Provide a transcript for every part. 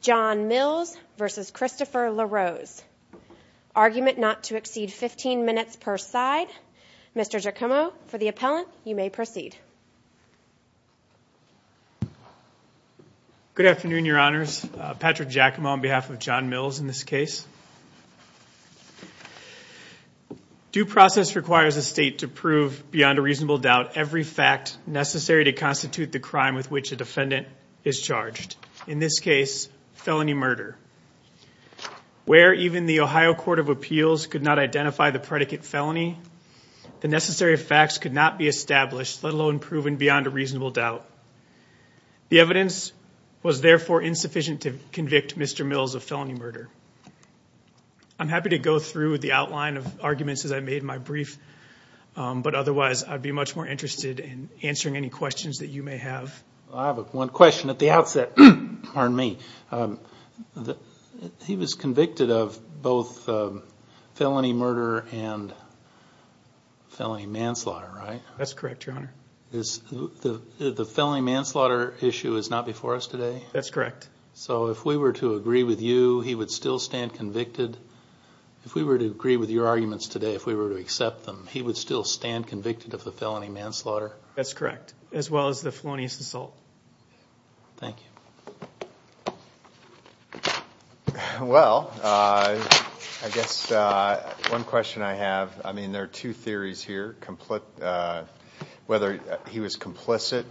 John Mills v. Christopher LaRose. Argument not to exceed 15 minutes per side. Mr. Giacomo, for the appellant, you may proceed. Good afternoon, your honors. Patrick Giacomo on behalf of John Mills in this case. Due process requires a state to prove beyond a reasonable doubt every fact necessary to constitute the crime with which a defendant is charged. In this case, felony murder. Where even the Ohio Court of Appeals could not identify the predicate felony, the necessary facts could not be established let alone proven beyond a reasonable doubt. The evidence was therefore insufficient to convict Mr. Mills of felony murder. I'm happy to go through the outline of arguments as I made my brief, but otherwise I'd be much more interested in answering any questions that you may have. I have one question at the outset, pardon me. He was convicted of both felony murder and felony manslaughter, right? That's correct, your honor. The felony manslaughter issue is not before us today? That's correct. So if we were to agree with you, he would still stand convicted? If we were to agree with your arguments today, he would still stand convicted of the felony manslaughter? That's correct, as well as the felonious assault. Thank you. Well, I guess one question I have, I mean there are two theories here, whether he was complicit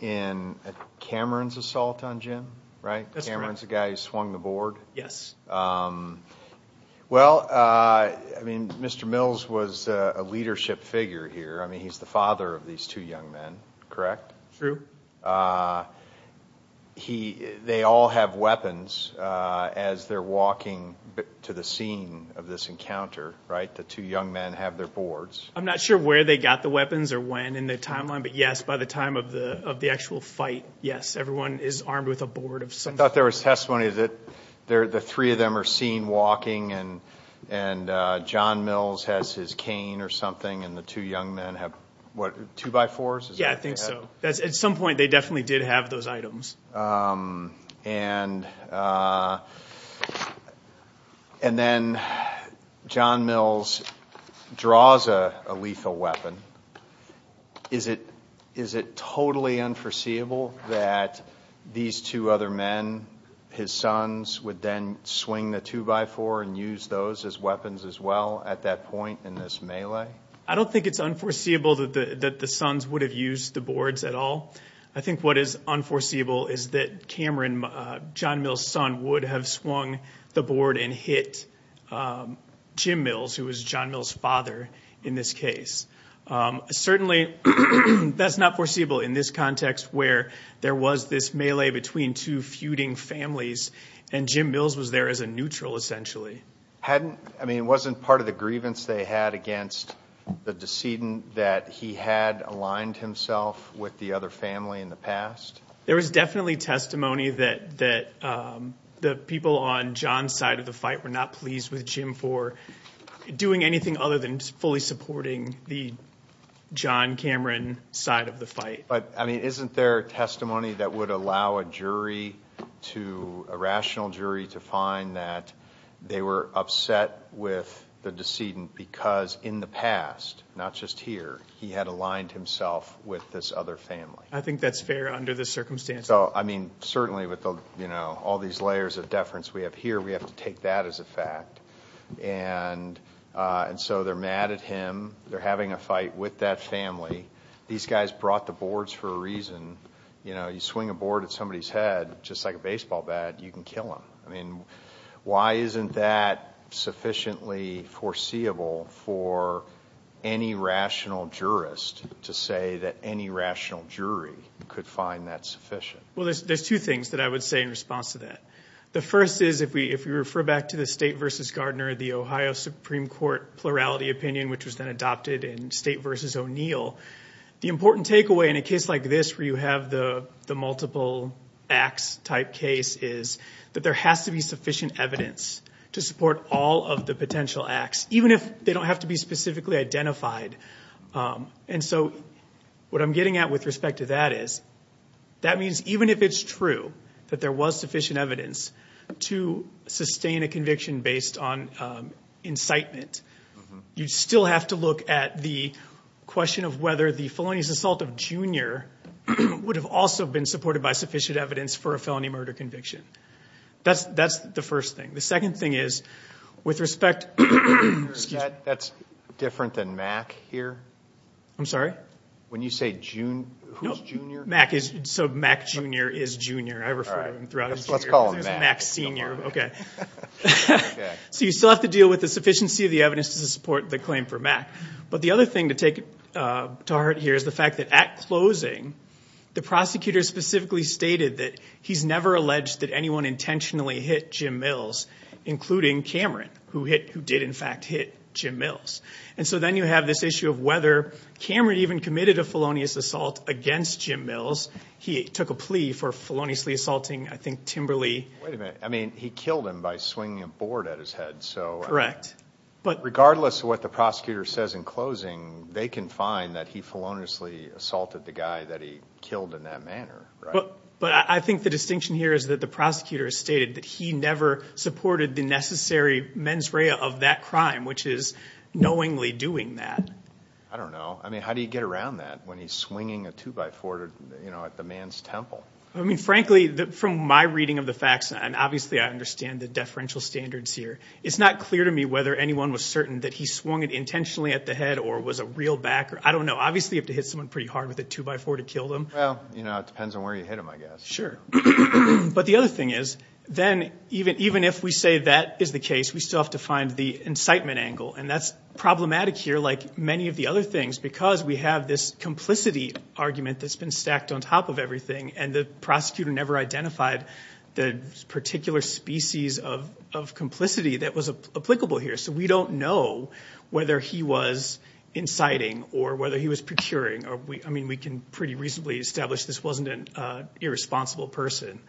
in Cameron's assault on Jim, right? Cameron's the guy who swung the leadership figure here. I mean he's the father of these two young men, correct? True. They all have weapons as they're walking to the scene of this encounter, right? The two young men have their boards. I'm not sure where they got the weapons or when in the timeline, but yes, by the time of the actual fight, yes, everyone is armed with a board of some sort. I thought something and the two young men have what, two by fours? Yeah, I think so. At some point, they definitely did have those items. And then John Mills draws a lethal weapon. Is it totally unforeseeable that these two other men, his sons, would then swing the two by four and use those as well at that point in this melee? I don't think it's unforeseeable that the sons would have used the boards at all. I think what is unforeseeable is that Cameron, John Mills' son, would have swung the board and hit Jim Mills, who was John Mills' father in this case. Certainly, that's not foreseeable in this context where there was this melee between two feuding families and Jim Mills was there as a neutral essentially. I mean, wasn't part of the grievance they had against the decedent that he had aligned himself with the other family in the past? There was definitely testimony that the people on John's side of the fight were not pleased with Jim for doing anything other than fully supporting the John Cameron side of the fight. But I mean, isn't there testimony that would allow a rational jury to find that they were upset with the decedent because in the past, not just here, he had aligned himself with this other family? I think that's fair under this circumstance. So, I mean, certainly with all these layers of deference we have here, we have to take that as a fact. And so they're mad at him. They're having a fight with that family. These guys brought the you know, you swing a board at somebody's head, just like a baseball bat, you can kill them. I mean, why isn't that sufficiently foreseeable for any rational jurist to say that any rational jury could find that sufficient? Well, there's two things that I would say in response to that. The first is if we refer back to the state versus Gardner, the Ohio Supreme Court plurality opinion, which was then adopted in state versus O'Neill, the important takeaway in a case like this where you have the multiple acts type case is that there has to be sufficient evidence to support all of the potential acts, even if they don't have to be specifically identified. And so what I'm getting at with respect to that is that means even if it's true that there was sufficient evidence to sustain a the question of whether the felonious assault of Junior would have also been supported by sufficient evidence for a felony murder conviction. That's the first thing. The second thing is, with respect... That's different than Mack here. I'm sorry? When you say Junior, who's Junior? Mack is, so Mack Junior is Junior. I refer to him throughout as Junior. Let's call him Mack. Mack Senior. Okay. But the other thing to take to heart here is the fact that at closing, the prosecutor specifically stated that he's never alleged that anyone intentionally hit Jim Mills, including Cameron, who did in fact hit Jim Mills. And so then you have this issue of whether Cameron even committed a felonious assault against Jim Mills. He took a plea for feloniously assaulting, I think, Timberley. Wait a minute. I mean, he killed him by swinging a board at his head. Correct. Regardless of what the prosecutor says in closing, they can find that he feloniously assaulted the guy that he killed in that manner, right? But I think the distinction here is that the prosecutor has stated that he never supported the necessary mens rea of that crime, which is knowingly doing that. I don't know. I mean, how do you get around that when he's swinging a two by four at the man's temple? I mean, frankly, from my reading of the facts, and obviously I understand the standards here, it's not clear to me whether anyone was certain that he swung it intentionally at the head or was a real backer. I don't know. Obviously, you have to hit someone pretty hard with a two by four to kill them. Well, you know, it depends on where you hit him, I guess. Sure. But the other thing is, then even if we say that is the case, we still have to find the incitement angle. And that's problematic here, like many of the other things, because we have this complicity argument that's been stacked on top of everything. And the prosecutor never identified the particular species of complicity that was applicable here. So we don't know whether he was inciting or whether he was procuring. I mean, we can pretty reasonably establish this wasn't an irresponsible person.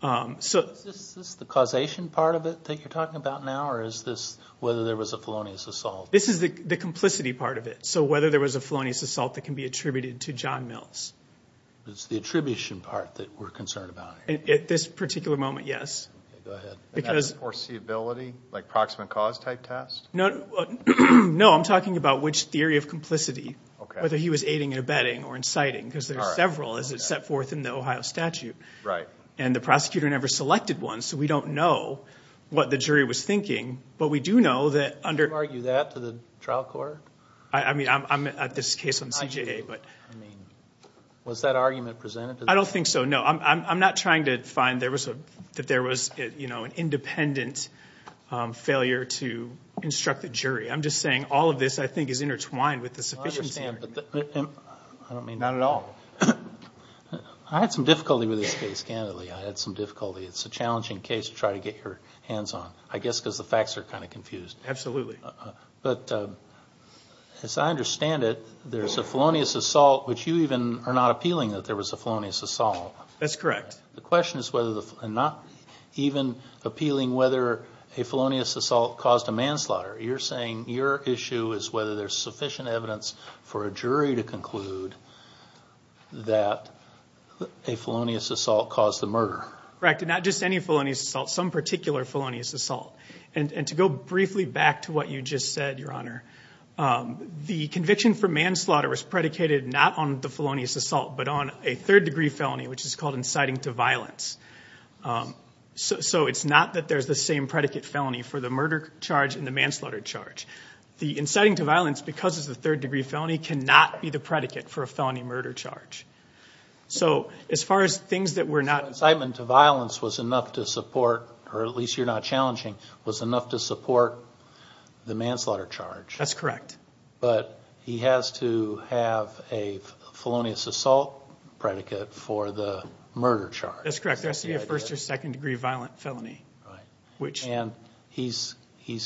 So is this the causation part of it that you're talking about now? Or is this whether there was a felonious assault? This is the complicity part of it. So whether there was a felonious assault that can be attributed to John Mills. It's the attribution part that we're concerned about here. At this particular moment, yes. Okay, go ahead. Because... And that's foreseeability, like proximate cause type test? No. No, I'm talking about which theory of complicity, whether he was aiding and abetting or inciting, because there's several as it's set forth in the Ohio statute. Right. And the prosecutor never selected one. So we don't know what the jury was thinking. But we do know that under... Do you argue that to the trial court? I mean, I'm at this case on CJA, but... I mean, was that argument presented? I don't think so. No, I'm not trying to find that there was, you know, an independent failure to instruct the jury. I'm just saying all of this, I think, is intertwined with the sufficiency... I understand, but I don't mean... Not at all. I had some difficulty with this case, candidly. I had some difficulty. It's a challenging case to try to get your hands on. I guess because the facts are kind of confused. Absolutely. But as I understand it, there's a felonious assault, which you even are not appealing that there was a felonious assault. That's correct. The question is whether the... and not even appealing whether a felonious assault caused a manslaughter. You're saying your issue is whether there's sufficient evidence for a jury to conclude that a felonious assault caused the murder. Correct. And not just any felonious assault, some particular felonious assault. And to briefly go back to what you just said, Your Honor, the conviction for manslaughter was predicated not on the felonious assault, but on a third degree felony, which is called inciting to violence. So it's not that there's the same predicate felony for the murder charge and the manslaughter charge. The inciting to violence, because it's a third degree felony, cannot be the predicate for a felony murder charge. So as far as things that were not... Incitement to violence was enough to support, or at least you're not challenging, was enough to support the manslaughter charge. That's correct. But he has to have a felonious assault predicate for the murder charge. That's correct. There has to be a first or second degree violent felony, which... And he's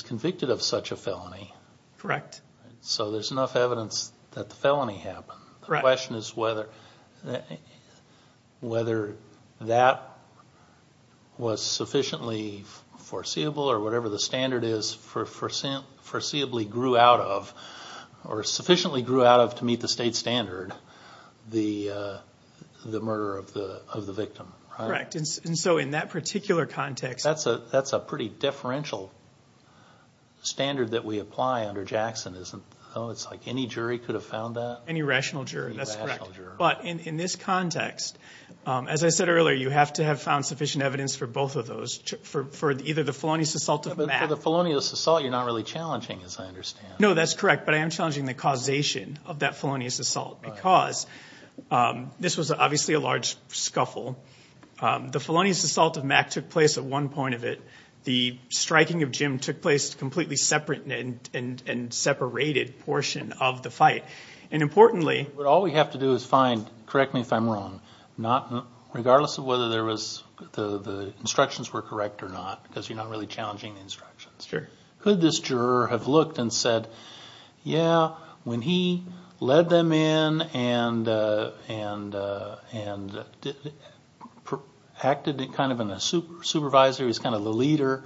convicted of such a felony. Correct. So there's enough evidence that the felony happened. The question is whether that was sufficiently foreseeable or whatever the standard is for foreseeably grew out of, or sufficiently grew out of to meet the state standard, the murder of the victim. Correct. And so in that particular context... That's a pretty differential standard that we apply under Jackson, isn't it? It's like any jury could have found that. Any rational jury. That's correct. But in this context, as I said earlier, you have to have found sufficient evidence for both of those, for either the felonious assault of Mac... For the felonious assault, you're not really challenging, as I understand. No, that's correct. But I am challenging the causation of that felonious assault because this was obviously a large scuffle. The felonious assault of Mac took place at one point of it. The striking of Jim took place completely separate and separated portion of the fight. And importantly... But all we have to do is find, correct me if I'm wrong, regardless of whether the instructions were correct or not, because you're not really challenging the instructions. Sure. Could this juror have looked and said, yeah, when he led them in and acted kind of in a supervisor, he's kind of the leader,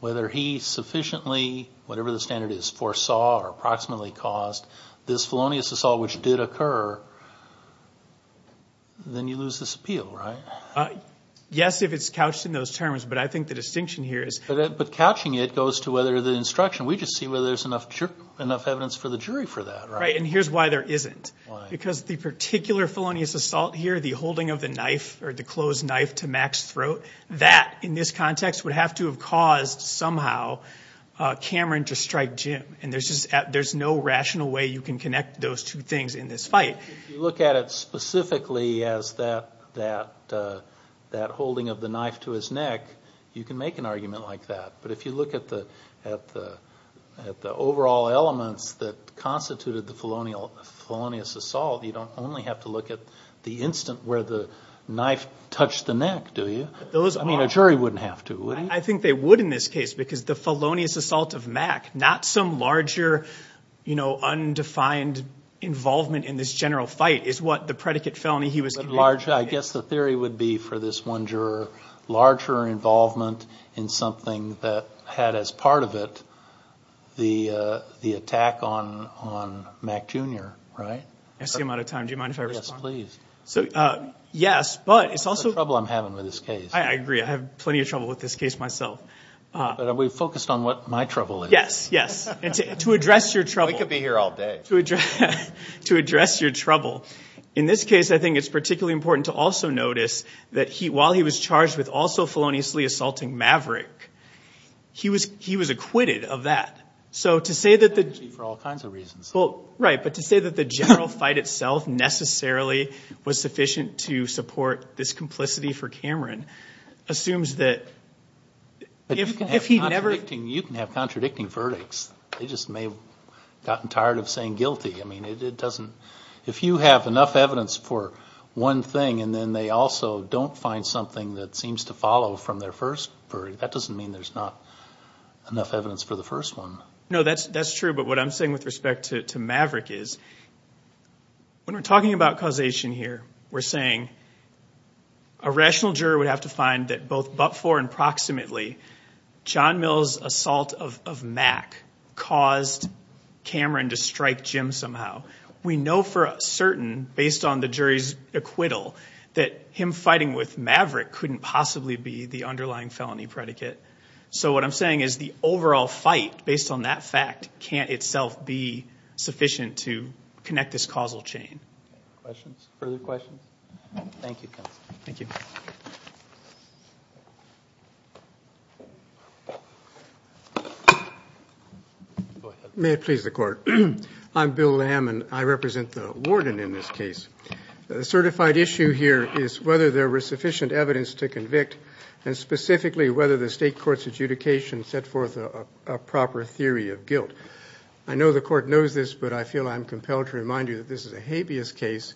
whether he sufficiently, whatever the standard is, foresaw or approximately caused this felonious assault, which did occur, then you lose this appeal, right? Yes, if it's couched in those terms. But I think the distinction here is... But couching it goes to whether the instruction, we just see whether there's enough evidence for the jury for that, right? And here's why there isn't. Because the particular felonious assault here, the holding of the knife or the closed knife to Mac's throat, that in this context would have to have caused somehow Cameron to strike Jim. And there's no rational way you can connect those two things in this fight. If you look at it specifically as that holding of the knife to his neck, you can make an argument like that. But if you look at the overall elements that constituted the felonious assault, you don't only have to look at the instant where the knife touched the neck, do you? I mean, a jury wouldn't have to, would he? I think they would in this case, because the felonious assault of Mac, not some larger undefined involvement in this general fight, is what the predicate felony he was committing. I guess the theory would be for this one juror, larger involvement in something that had as part of it the attack on Mac Jr., right? I see I'm out of time. Do you mind if I respond? Yes, please. Yes, but it's also... The trouble I'm having with this case. I agree. I have plenty of trouble with this case myself. But we've focused on what my trouble is. Yes, yes. And to address your trouble... We could be here all day. To address your trouble. In this case, I think it's particularly important to also notice that while he was charged with also feloniously assaulting Maverick, he was acquitted of that. So to say that the... For all kinds of reasons. Well, right. But to say that the general fight itself necessarily was sufficient to support this complicity for Cameron assumes that if he never... You can have contradicting verdicts. They just may have gotten tired of saying guilty. I mean, it doesn't... If you have enough evidence for one thing and then they also don't find something that seems to follow from their first verdict, that doesn't mean there's not enough evidence for the first one. No, that's true. But what I'm saying with respect to Maverick is when we're talking about causation here, we're saying a rational juror would have to find that both but for and proximately John Mill's assault of Mac caused Cameron to strike Jim somehow. We know for certain, based on the jury's acquittal, that him fighting with Maverick couldn't possibly be the underlying felony predicate. So what I'm saying is the overall fight based on that fact can't itself be sufficient to connect this causal chain. Questions? Further questions? Thank you, counsel. Thank you. Go ahead. May it please the court. I'm Bill Lamb and I represent the warden in this case. The certified issue here is whether there was sufficient evidence to convict and specifically whether the state court's adjudication set forth a proper theory of guilt. I know the court knows this, but I feel I'm compelled to remind you that this is a habeas case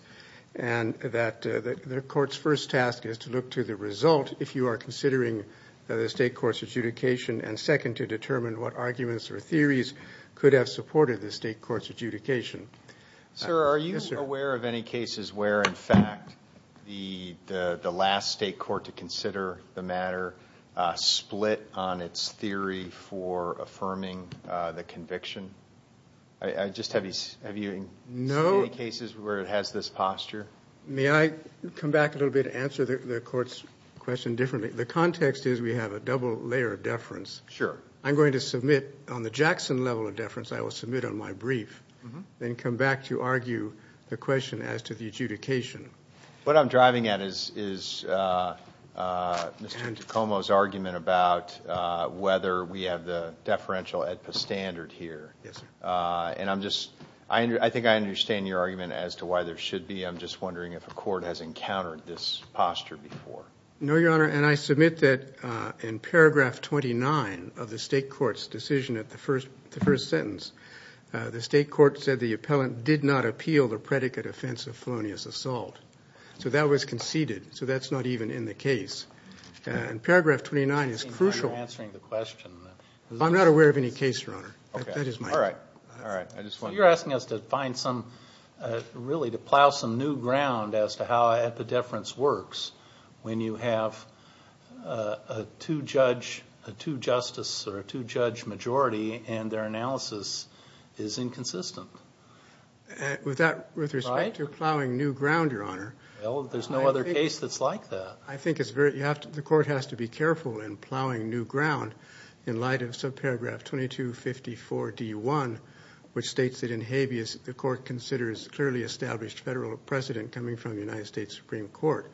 and that the court's first task is to look to the result if you are considering the state court's adjudication and second, to determine what arguments or theories could have supported the state court's adjudication. Sir, are you aware of any cases where, in fact, the last state court to consider the matter split on its theory for affirming the conviction? I just have, have you seen any cases where it has this posture? May I come back a little bit to answer the court's question differently? The context is we have a double layer of deference. Sure. I'm going to submit on the Jackson level of deference. I will submit on my brief, then come back to argue the question as to the adjudication. What I'm driving at is Mr. Tacoma's argument about whether we have the deferential at the standard here and I'm just, I think I understand your argument as to why there should be. I'm just wondering if a court has encountered this posture before. No, Your Honor. And I submit that in paragraph 29 of the state court's decision at the first sentence, the state court said the appellant did not appeal the predicate offense of felonious assault. So that was conceded. So that's not even in the case. And paragraph 29 is crucial. Are you answering the question? I'm not aware of any case, Your Honor. That is my... All right. All right. I just want... To find some... Really, to plow some new ground as to how epideference works when you have a two-judge, a two-justice or a two-judge majority and their analysis is inconsistent. With respect to plowing new ground, Your Honor... Well, there's no other case that's like that. I think it's very... The court has to be careful in plowing new ground in light of subparagraph 2254-D1, which states that in habeas, the court considers clearly established federal precedent coming from the United States Supreme Court.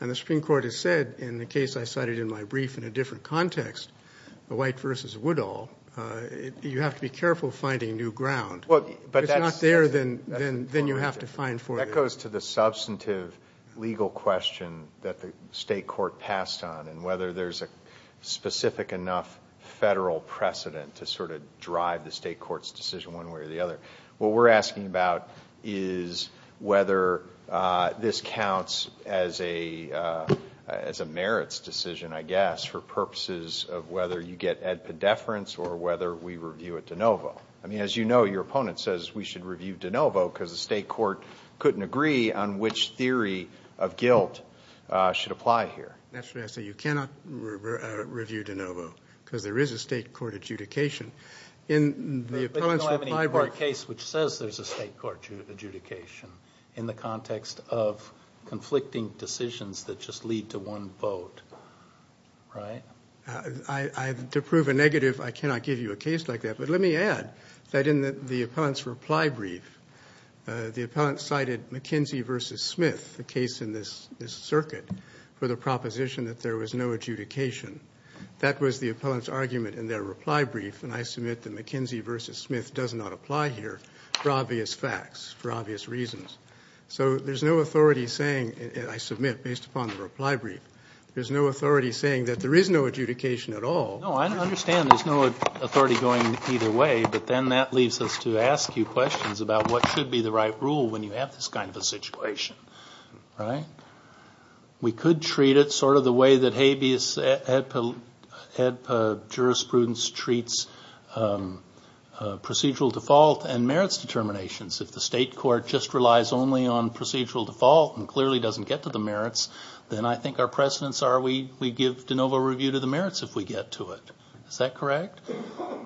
And the Supreme Court has said in the case I cited in my brief in a different context, White v. Woodall, you have to be careful finding new ground. Well, but that's... If it's not there, then you have to find for it. That goes to the substantive legal question that the state court passed on and whether there's a federal precedent to sort of drive the state court's decision one way or the other. What we're asking about is whether this counts as a merits decision, I guess, for purposes of whether you get epideference or whether we review it de novo. I mean, as you know, your opponent says we should review de novo because the state court couldn't agree on which theory of guilt should apply here. Naturally, I say you cannot review de novo because there is a state court adjudication. But you don't have any court case which says there's a state court adjudication in the context of conflicting decisions that just lead to one vote, right? To prove a negative, I cannot give you a case like that. But let me add that in the appellant's reply brief, the appellant cited McKinsey v. Smith, the case in this circuit, for the proposition that there was no adjudication. That was the appellant's argument in their reply brief. And I submit that McKinsey v. Smith does not apply here for obvious facts, for obvious reasons. So there's no authority saying, and I submit based upon the reply brief, there's no authority saying that there is no adjudication at all. No, I understand there's no authority going either way. But then that leaves us to ask you questions about what should be the right rule when you have this kind of a situation, right? We could treat it sort of the way that habeas jurisprudence treats procedural default and merits determinations. If the state court just relies only on procedural default and clearly doesn't get to the merits, then I think our precedents are we give de novo review to the merits if we get to it. Is that correct?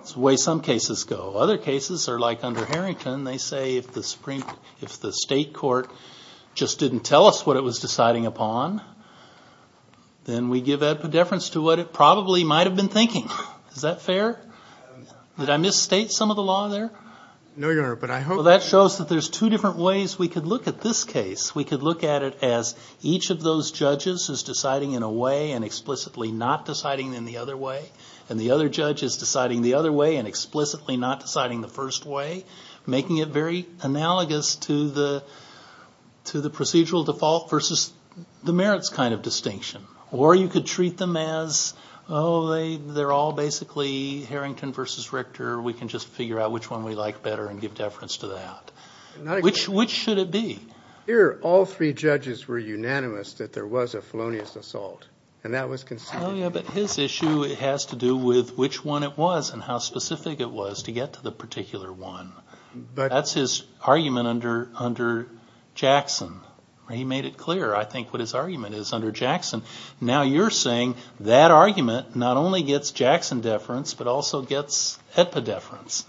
It's the way some cases go. Other cases are like under Harrington. They say if the state court just didn't tell us what it was deciding upon, then we give that predeference to what it probably might have been thinking. Is that fair? Did I misstate some of the law there? No, Your Honor, but I hope... Well, that shows that there's two different ways we could look at this case. We could look at it as each of those judges is deciding in a way and explicitly not deciding in the other way. And the other judge is deciding the other way and explicitly not deciding the first way, making it very analogous to the procedural default versus the merits kind of distinction. Or you could treat them as, oh, they're all basically Harrington versus Richter. We can just figure out which one we like better and give deference to that. Which should it be? Here, all three judges were unanimous that there was a felonious assault, and that was conceded. But his issue has to do with which one it was and how specific it was to get to the particular one. That's his argument under Jackson. He made it clear, I think, what his argument is under Jackson. Now you're saying that argument not only gets Jackson deference, but also gets Edpa deference.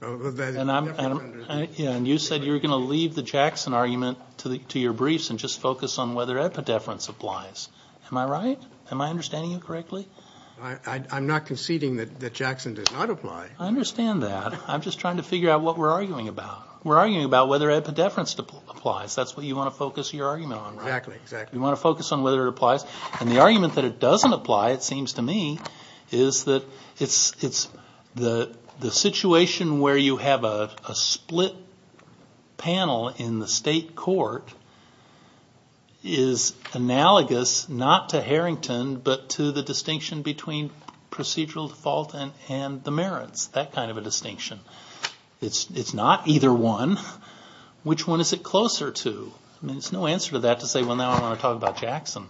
And you said you're going to leave the Jackson argument to your briefs and just focus on whether Edpa deference applies. Am I right? Am I understanding you correctly? I'm not conceding that Jackson does not apply. I understand that. I'm just trying to figure out what we're arguing about. We're arguing about whether Edpa deference applies. That's what you want to focus your argument on, right? Exactly, exactly. You want to focus on whether it applies. And the argument that it doesn't apply, it seems to me, is that the situation where you have a split panel in the state court is analogous not to Harrington, but to the distinction between procedural default and the merits. That kind of a distinction. It's not either one. Which one is it closer to? I mean, there's no answer to that to say, well, now I want to talk about Jackson.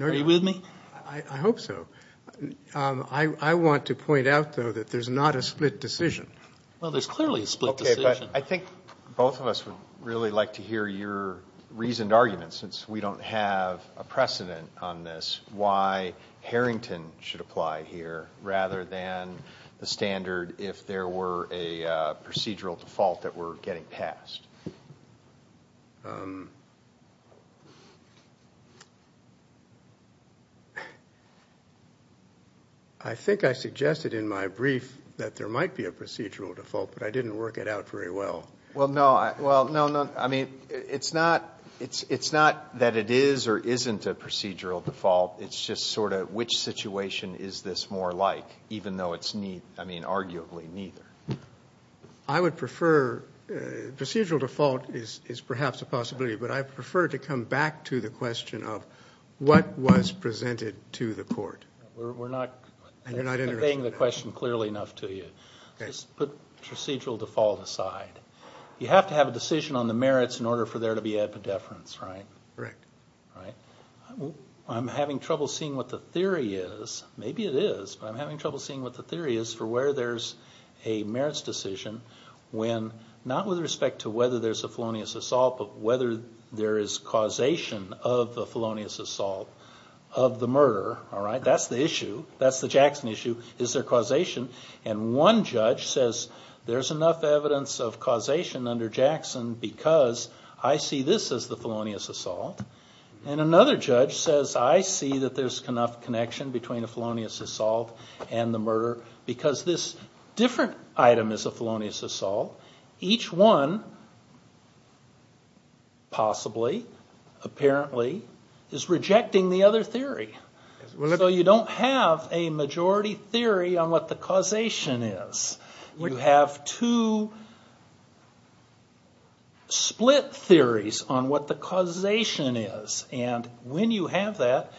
Are you with me? I hope so. I want to point out, though, that there's not a split decision. Well, there's clearly a split decision. I think both of us would really like to hear your reasoned argument, since we don't have a precedent on this, why Harrington should apply here rather than the standard if there were a procedural default that were getting passed. I think I suggested in my brief that there might be a procedural default, but I didn't work it out very well. Well, no, I mean, it's not that it is or isn't a procedural default. It's just sort of which situation is this more like, even though it's, I mean, arguably neither. I would prefer procedural default is perhaps a possibility, but I prefer to come back to the question of what was presented to the court. We're not conveying the question clearly enough to you. Let's put procedural default aside. You have to have a decision on the merits in order for there to be epidefference, right? Correct. Right. I'm having trouble seeing what the theory is. Maybe it is, but I'm having trouble seeing what the theory is for where there's a merits decision when, not with respect to whether there's a felonious assault, but whether there is causation of a felonious assault of the murder, all right? That's the issue. That's the Jackson issue. Is there causation? And one judge says there's enough evidence of causation under Jackson because I see this as the felonious assault. And another judge says I see that there's enough connection between a felonious assault and the murder because this different item is a felonious assault. Each one, possibly, apparently, is rejecting the other theory. So you don't have a majority theory on what the causation is. You have two split theories on what the causation is. And when you have that,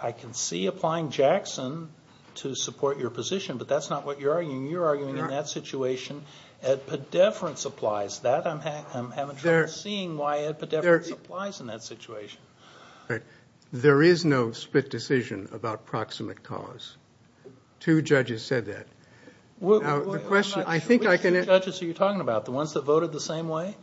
I can see applying Jackson to support your position, but that's not what you're arguing. You're arguing in that situation epidefference applies. That, I'm having trouble seeing why epidefference applies in that situation. All right. There is no split decision about proximate cause. Two judges said that. Well, I'm not sure which two judges are you talking about, the ones that voted the same way?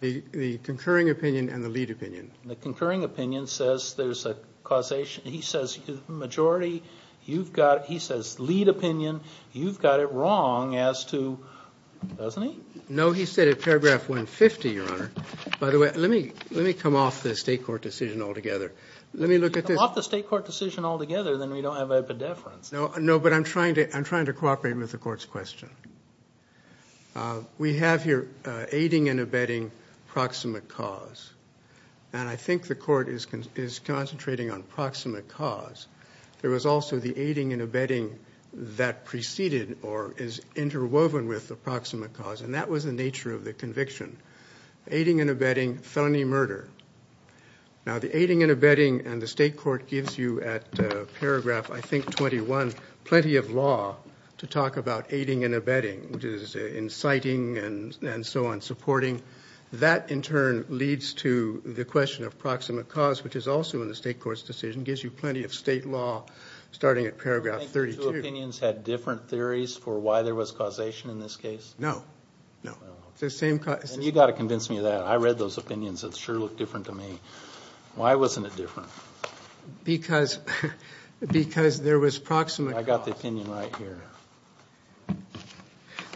The concurring opinion and the lead opinion. The concurring opinion says there's a causation. He says majority, you've got it. He says lead opinion, you've got it wrong as to, doesn't he? No, he said at paragraph 150, Your Honor. By the way, let me come off the state court decision altogether. Let me look at this. If you come off the state court decision altogether, then we don't have epidefference. No, but I'm trying to cooperate with the court's question. We have here aiding and abetting proximate cause. And I think the court is concentrating on proximate cause. There was also the aiding and abetting that preceded or is interwoven with the proximate cause. And that was the nature of the conviction. Aiding and abetting, felony murder. Now, the aiding and abetting and the state court gives you at paragraph, I think, 21, plenty of law to talk about aiding and abetting, which is inciting and so on, supporting. That, in turn, leads to the question of proximate cause, which is also in the state court's decision, gives you plenty of state law, starting at paragraph 32. Do you think the two opinions had different theories for why there was causation in this case? No, no. And you got to convince me of that. I read those opinions. It sure looked different to me. Why wasn't it different? Because there was proximate cause. I got the opinion right here.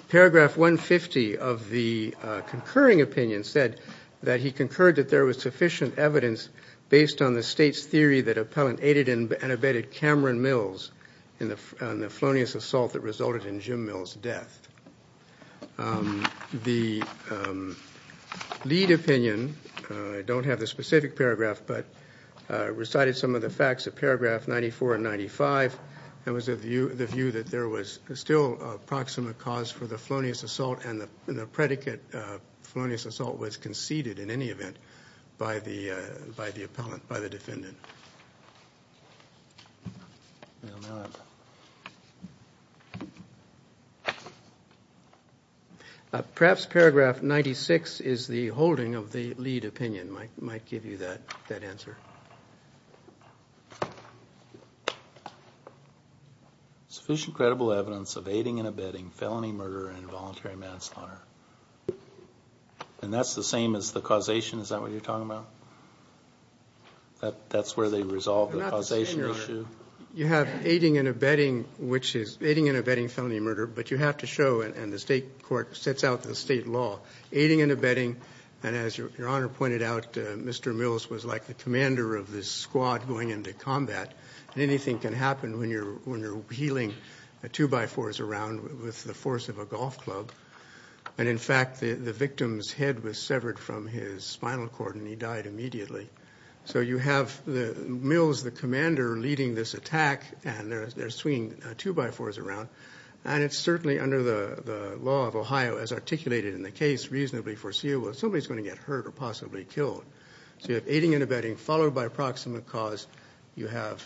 Paragraph 150 of the concurring opinion said that he concurred that there was sufficient evidence based on the state's theory that appellant aided and abetted Cameron Mills in the felonious assault that resulted in Jim Mills' death. The lead opinion, I don't have the specific paragraph, but recited some of the facts of paragraph 94 and 95. That was the view that there was still a proximate cause for the felonious assault and the predicate felonious assault was conceded, in any event, by the defendant. Perhaps paragraph 96 is the holding of the lead opinion, might give you that answer. Sufficient credible evidence of aiding and abetting felony murder and involuntary manslaughter. And that's the same as the causation? Is that what you're talking about? That's where they resolve the causation issue? You have aiding and abetting which is aiding and abetting felony murder, but you have to show, and the state court sets out the state law, aiding and abetting. And as your honor pointed out, Mr. Mills was like the commander of this squad going into combat. And anything can happen when you're wheeling two by fours around with the force of a golf club. And in fact, the victim's head was severed from his spinal cord and he died immediately. So you have Mills, the commander, leading this attack and they're swinging two by fours around. And it's certainly under the law of Ohio, as articulated in the case, reasonably foreseeable that somebody's going to get hurt or possibly killed. So you have aiding and abetting followed by approximate cause. I'm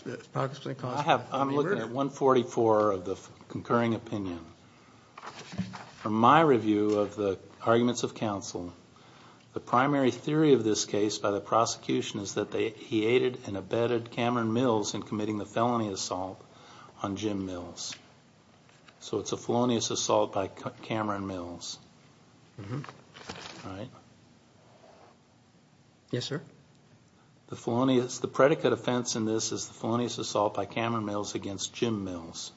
looking at 144 of the concurring opinion. From my review of the arguments of counsel, the primary theory of this case by the prosecution is that he aided and abetted Cameron Mills in committing the felony assault on Jim Mills. So it's a felonious assault by Cameron Mills, right? Yes, sir. The felonious, the predicate offense in this is the felonious assault by Cameron Mills against Jim Mills,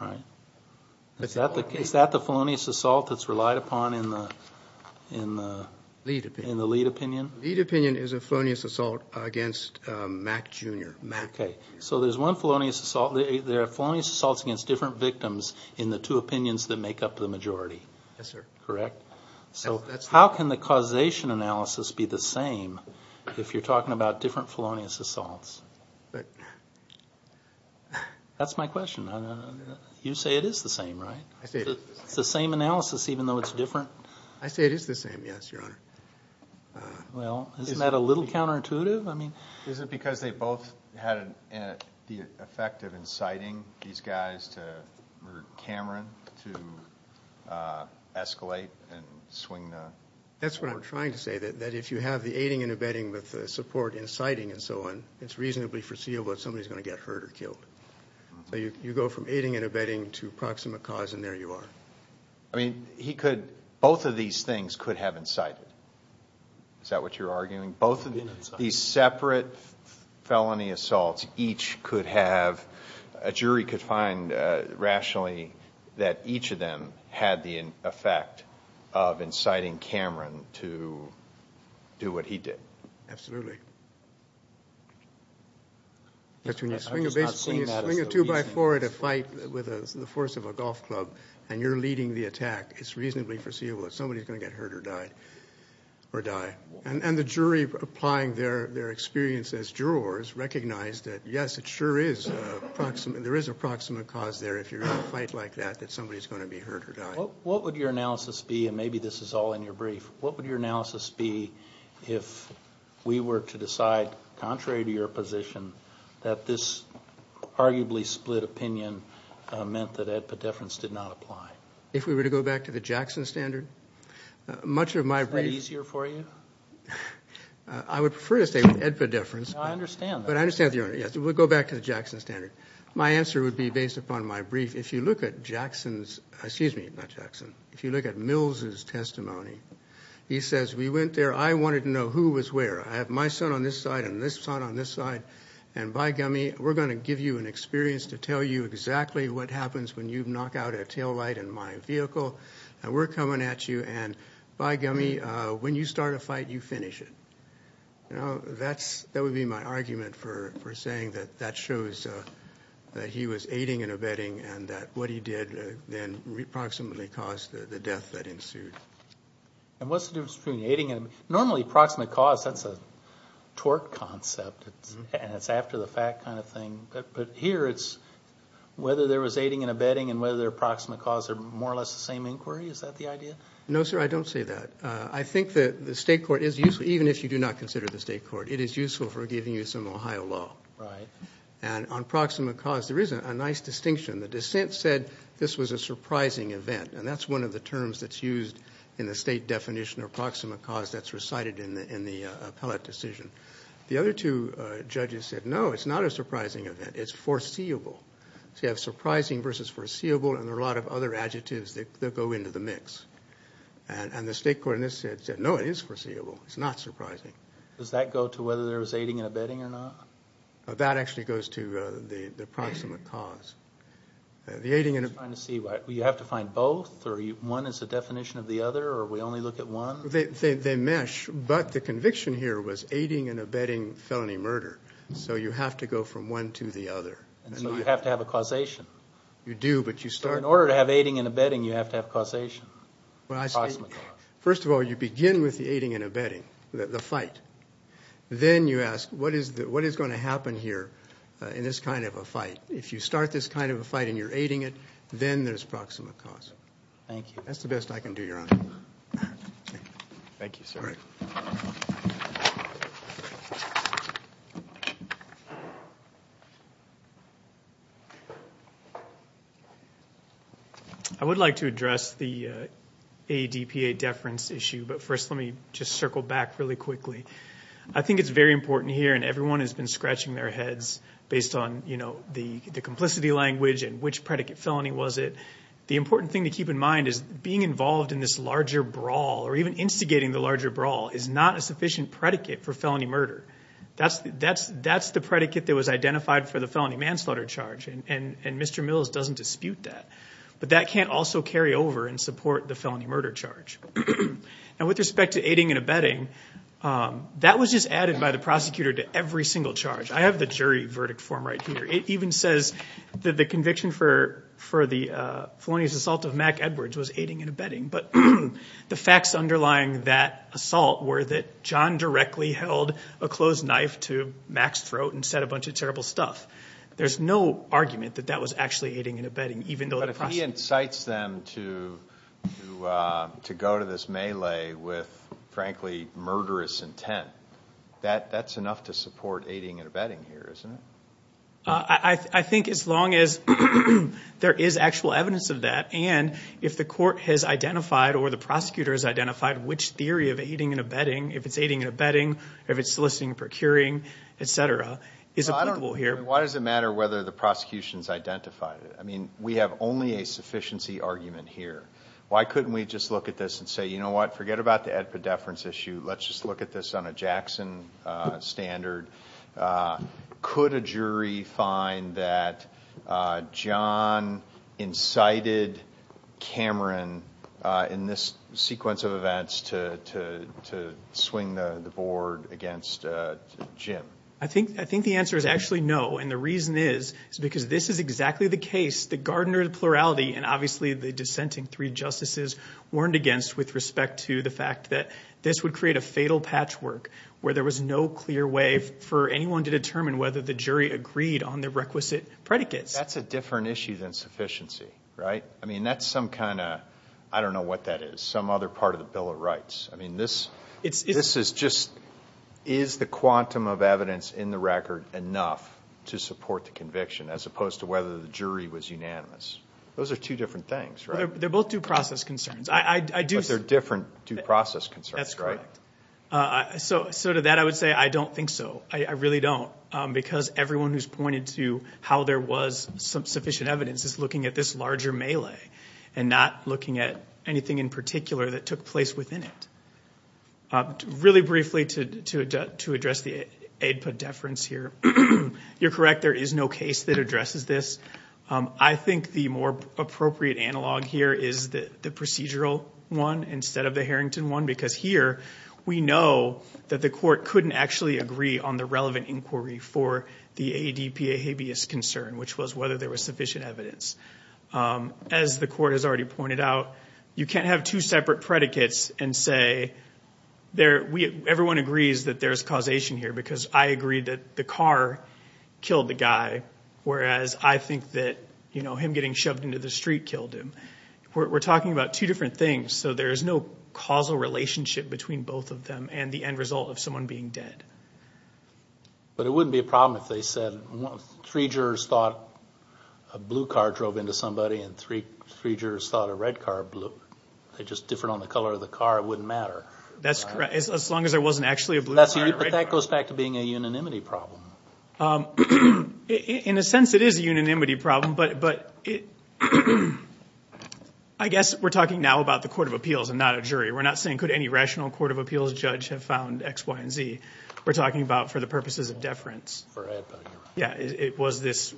right? Is that the felonious assault that's relied upon in the lead opinion? Lead opinion is a felonious assault against Mack Jr., Mack. Okay. So there's one felonious assault, there are felonious assaults against different victims in the two opinions that make up the majority. Yes, sir. Correct? So how can the causation analysis be the same if you're talking about different felonious assaults? That's my question. You say it is the same, right? It's the same analysis, even though it's different? I say it is the same, yes, your honor. Well, isn't that a little counterintuitive? Is it because they both had the effect of inciting these guys to murder Cameron to escalate and swing? That's what I'm trying to say, that if you have the aiding and abetting with the support inciting and so on, it's reasonably foreseeable that somebody's going to get hurt or killed. You go from aiding and abetting to proximate cause and there you are. I mean, he could, both of these things could have incited. Is that what you're arguing? Both of these separate felony assaults, each could have, a jury could find rationally that each of them had the effect of inciting Cameron to do what he did. Absolutely. But when you swing a two by four at a fight with the force of a golf club, and you're leading the attack, it's reasonably foreseeable that somebody's going to get hurt or or die. And the jury applying their experience as jurors recognized that, yes, it sure is, there is a proximate cause there if you're in a fight like that, that somebody's going to be hurt or die. What would your analysis be, and maybe this is all in your brief, what would your analysis be if we were to decide, contrary to your position, that this arguably split opinion meant that Ed Pedefrans did not apply? If we were to go back to the Jackson standard? Much of my brief... Is that easier for you? I would prefer to stay with Ed Pedefrans. No, I understand that. But I understand, yes, we'll go back to the Jackson standard. My answer would be based upon my brief. If you look at Jackson's, excuse me, not Jackson, if you look at Mills' testimony, he says, we went there, I wanted to know who was where. I have my son on this side and this son on this side. And by gummy, we're going to give you an experience to tell you exactly what happens when you knock out a taillight in my vehicle, and we're coming at you. And by gummy, when you start a fight, you finish it. You know, that would be my argument for saying that that shows that he was aiding and abetting and that what he did then approximately caused the death that ensued. And what's the difference between aiding and abetting? Normally, approximate cause, that's a tort concept, and it's after the fact kind of thing. But here, it's whether there was aiding and abetting and whether approximate cause are more or less the same inquiry. Is that the idea? No, sir, I don't say that. I think that the state court is useful, even if you do not consider the state court. It is useful for giving you some Ohio law. Right. And on approximate cause, there is a nice distinction. The dissent said this was a surprising event. And that's one of the terms that's used in the state definition of approximate cause that's recited in the appellate decision. The other two judges said, no, it's not a surprising event. It's foreseeable. So you have surprising versus foreseeable, and there are a lot of other adjectives that go into the mix. And the state court in this said, no, it is foreseeable. It's not surprising. Does that go to whether there was aiding and abetting or not? That actually goes to the approximate cause. The aiding and abetting... I'm just trying to see, you have to find both? Or one is the definition of the other, or we only look at one? They mesh, but the conviction here was aiding and abetting felony murder. So you have to go from one to the other. And so you have to have a causation. You do, but you start... In order to have aiding and abetting, you have to have causation. First of all, you begin with the aiding and abetting, the fight. Then you ask, what is going to happen here in this kind of a fight? If you start this kind of a fight and you're aiding it, then there's proximate cause. Thank you. That's the best I can do, Your Honor. Thank you, sir. I would like to address the ADPA deference issue. But first, let me just circle back really quickly. I think it's very important here, and everyone has been scratching their heads based on the complicity language and which predicate felony was it. The important thing to keep in mind is being involved in this larger brawl or even instigating the larger brawl is not a sufficient predicate for felony murder. That's the predicate that was identified for the felony manslaughter charge. And Mr. Mills doesn't dispute that. But that can't also carry over and support the felony murder charge. And with respect to aiding and abetting, that was just added by the prosecutor to every single charge. I have the jury verdict form right here. It even says that the conviction for the felonious assault of Mack Edwards was aiding and abetting. But the facts underlying that assault were that John directly held a closed knife to Mack's throat and said a bunch of terrible stuff. There's no argument that that was actually aiding and abetting, even though the prosecutor— But if he incites them to go to this melee with, frankly, murderous intent, that's enough to support aiding and abetting here, isn't it? I think as long as there is actual evidence of that, and if the court has identified or the prosecutor has identified which theory of aiding and abetting, if it's aiding and abetting or if it's soliciting and procuring, et cetera, is applicable here. Why does it matter whether the prosecution's identified it? I mean, we have only a sufficiency argument here. Why couldn't we just look at this and say, you know what, forget about the epidephrine issue. Let's just look at this on a Jackson standard. Could a jury find that John incited Cameron in this sequence of events to swing the board against Jim? I think the answer is actually no, and the reason is because this is exactly the case that Gardner's plurality and obviously the dissenting three justices warned against with respect to the fact that this would create a fatal patchwork where there was no clear way for anyone to determine whether the jury agreed on the requisite predicates. That's a different issue than sufficiency, right? I mean, that's some kind of, I don't know what that is, some other part of the Bill of Rights. I mean, this is just, is the quantum of evidence in the record enough to support the conviction as opposed to whether the jury was unanimous? Those are two different things, right? They're both due process concerns. But they're different due process concerns, right? That's correct. So to that, I would say I don't think so. I really don't because everyone who's pointed to how there was some sufficient evidence is looking at this larger melee and not looking at anything in particular that took place within it. Really briefly to address the AIDPA deference here, you're correct, there is no case that addresses this. I think the more appropriate analog here is the procedural one instead of the Harrington one because here we know that the court couldn't actually agree on the relevant inquiry for the AIDPA habeas concern, which was whether there was sufficient evidence. As the court has already pointed out, you can't have two separate predicates and say, everyone agrees that there's causation here because I agree that the car killed the guy, whereas I think that him getting shoved into the street killed him. We're talking about two different things. So there's no causal relationship between both of them and the end result of someone being dead. But it wouldn't be a problem if they said three jurors thought a blue car drove into somebody and three jurors thought a red car blew. They're just different on the color of the car. It wouldn't matter. That's correct. As long as there wasn't actually a blue car. But that goes back to being a unanimity problem. In a sense, it is a unanimity problem, but I guess we're talking now about the Court of Appeals and not a jury. We're not saying could any rational Court of Appeals judge have found X, Y, and Z. We're talking about for the purposes of deference. It was this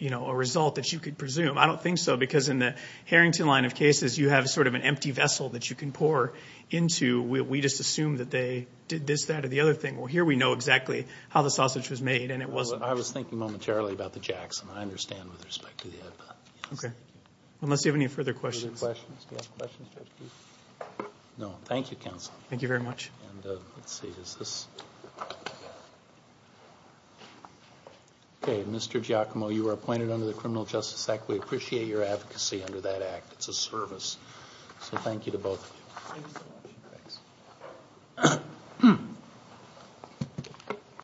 result that you could presume. I don't think so because in the Harrington line of cases, you have sort of an empty vessel that you can pour into. We just assume that they did this, that, or the other thing. Well, here we know exactly how the sausage was made and it wasn't. I was thinking momentarily about the Jackson. I understand with respect to the headbutt. Okay. Unless you have any further questions. Any questions? No. Thank you, counsel. Thank you very much. Okay. Mr. Giacomo, you are appointed under the Criminal Justice Act. We appreciate your advocacy under that Act. It's a service. So thank you to both of you. Thank you.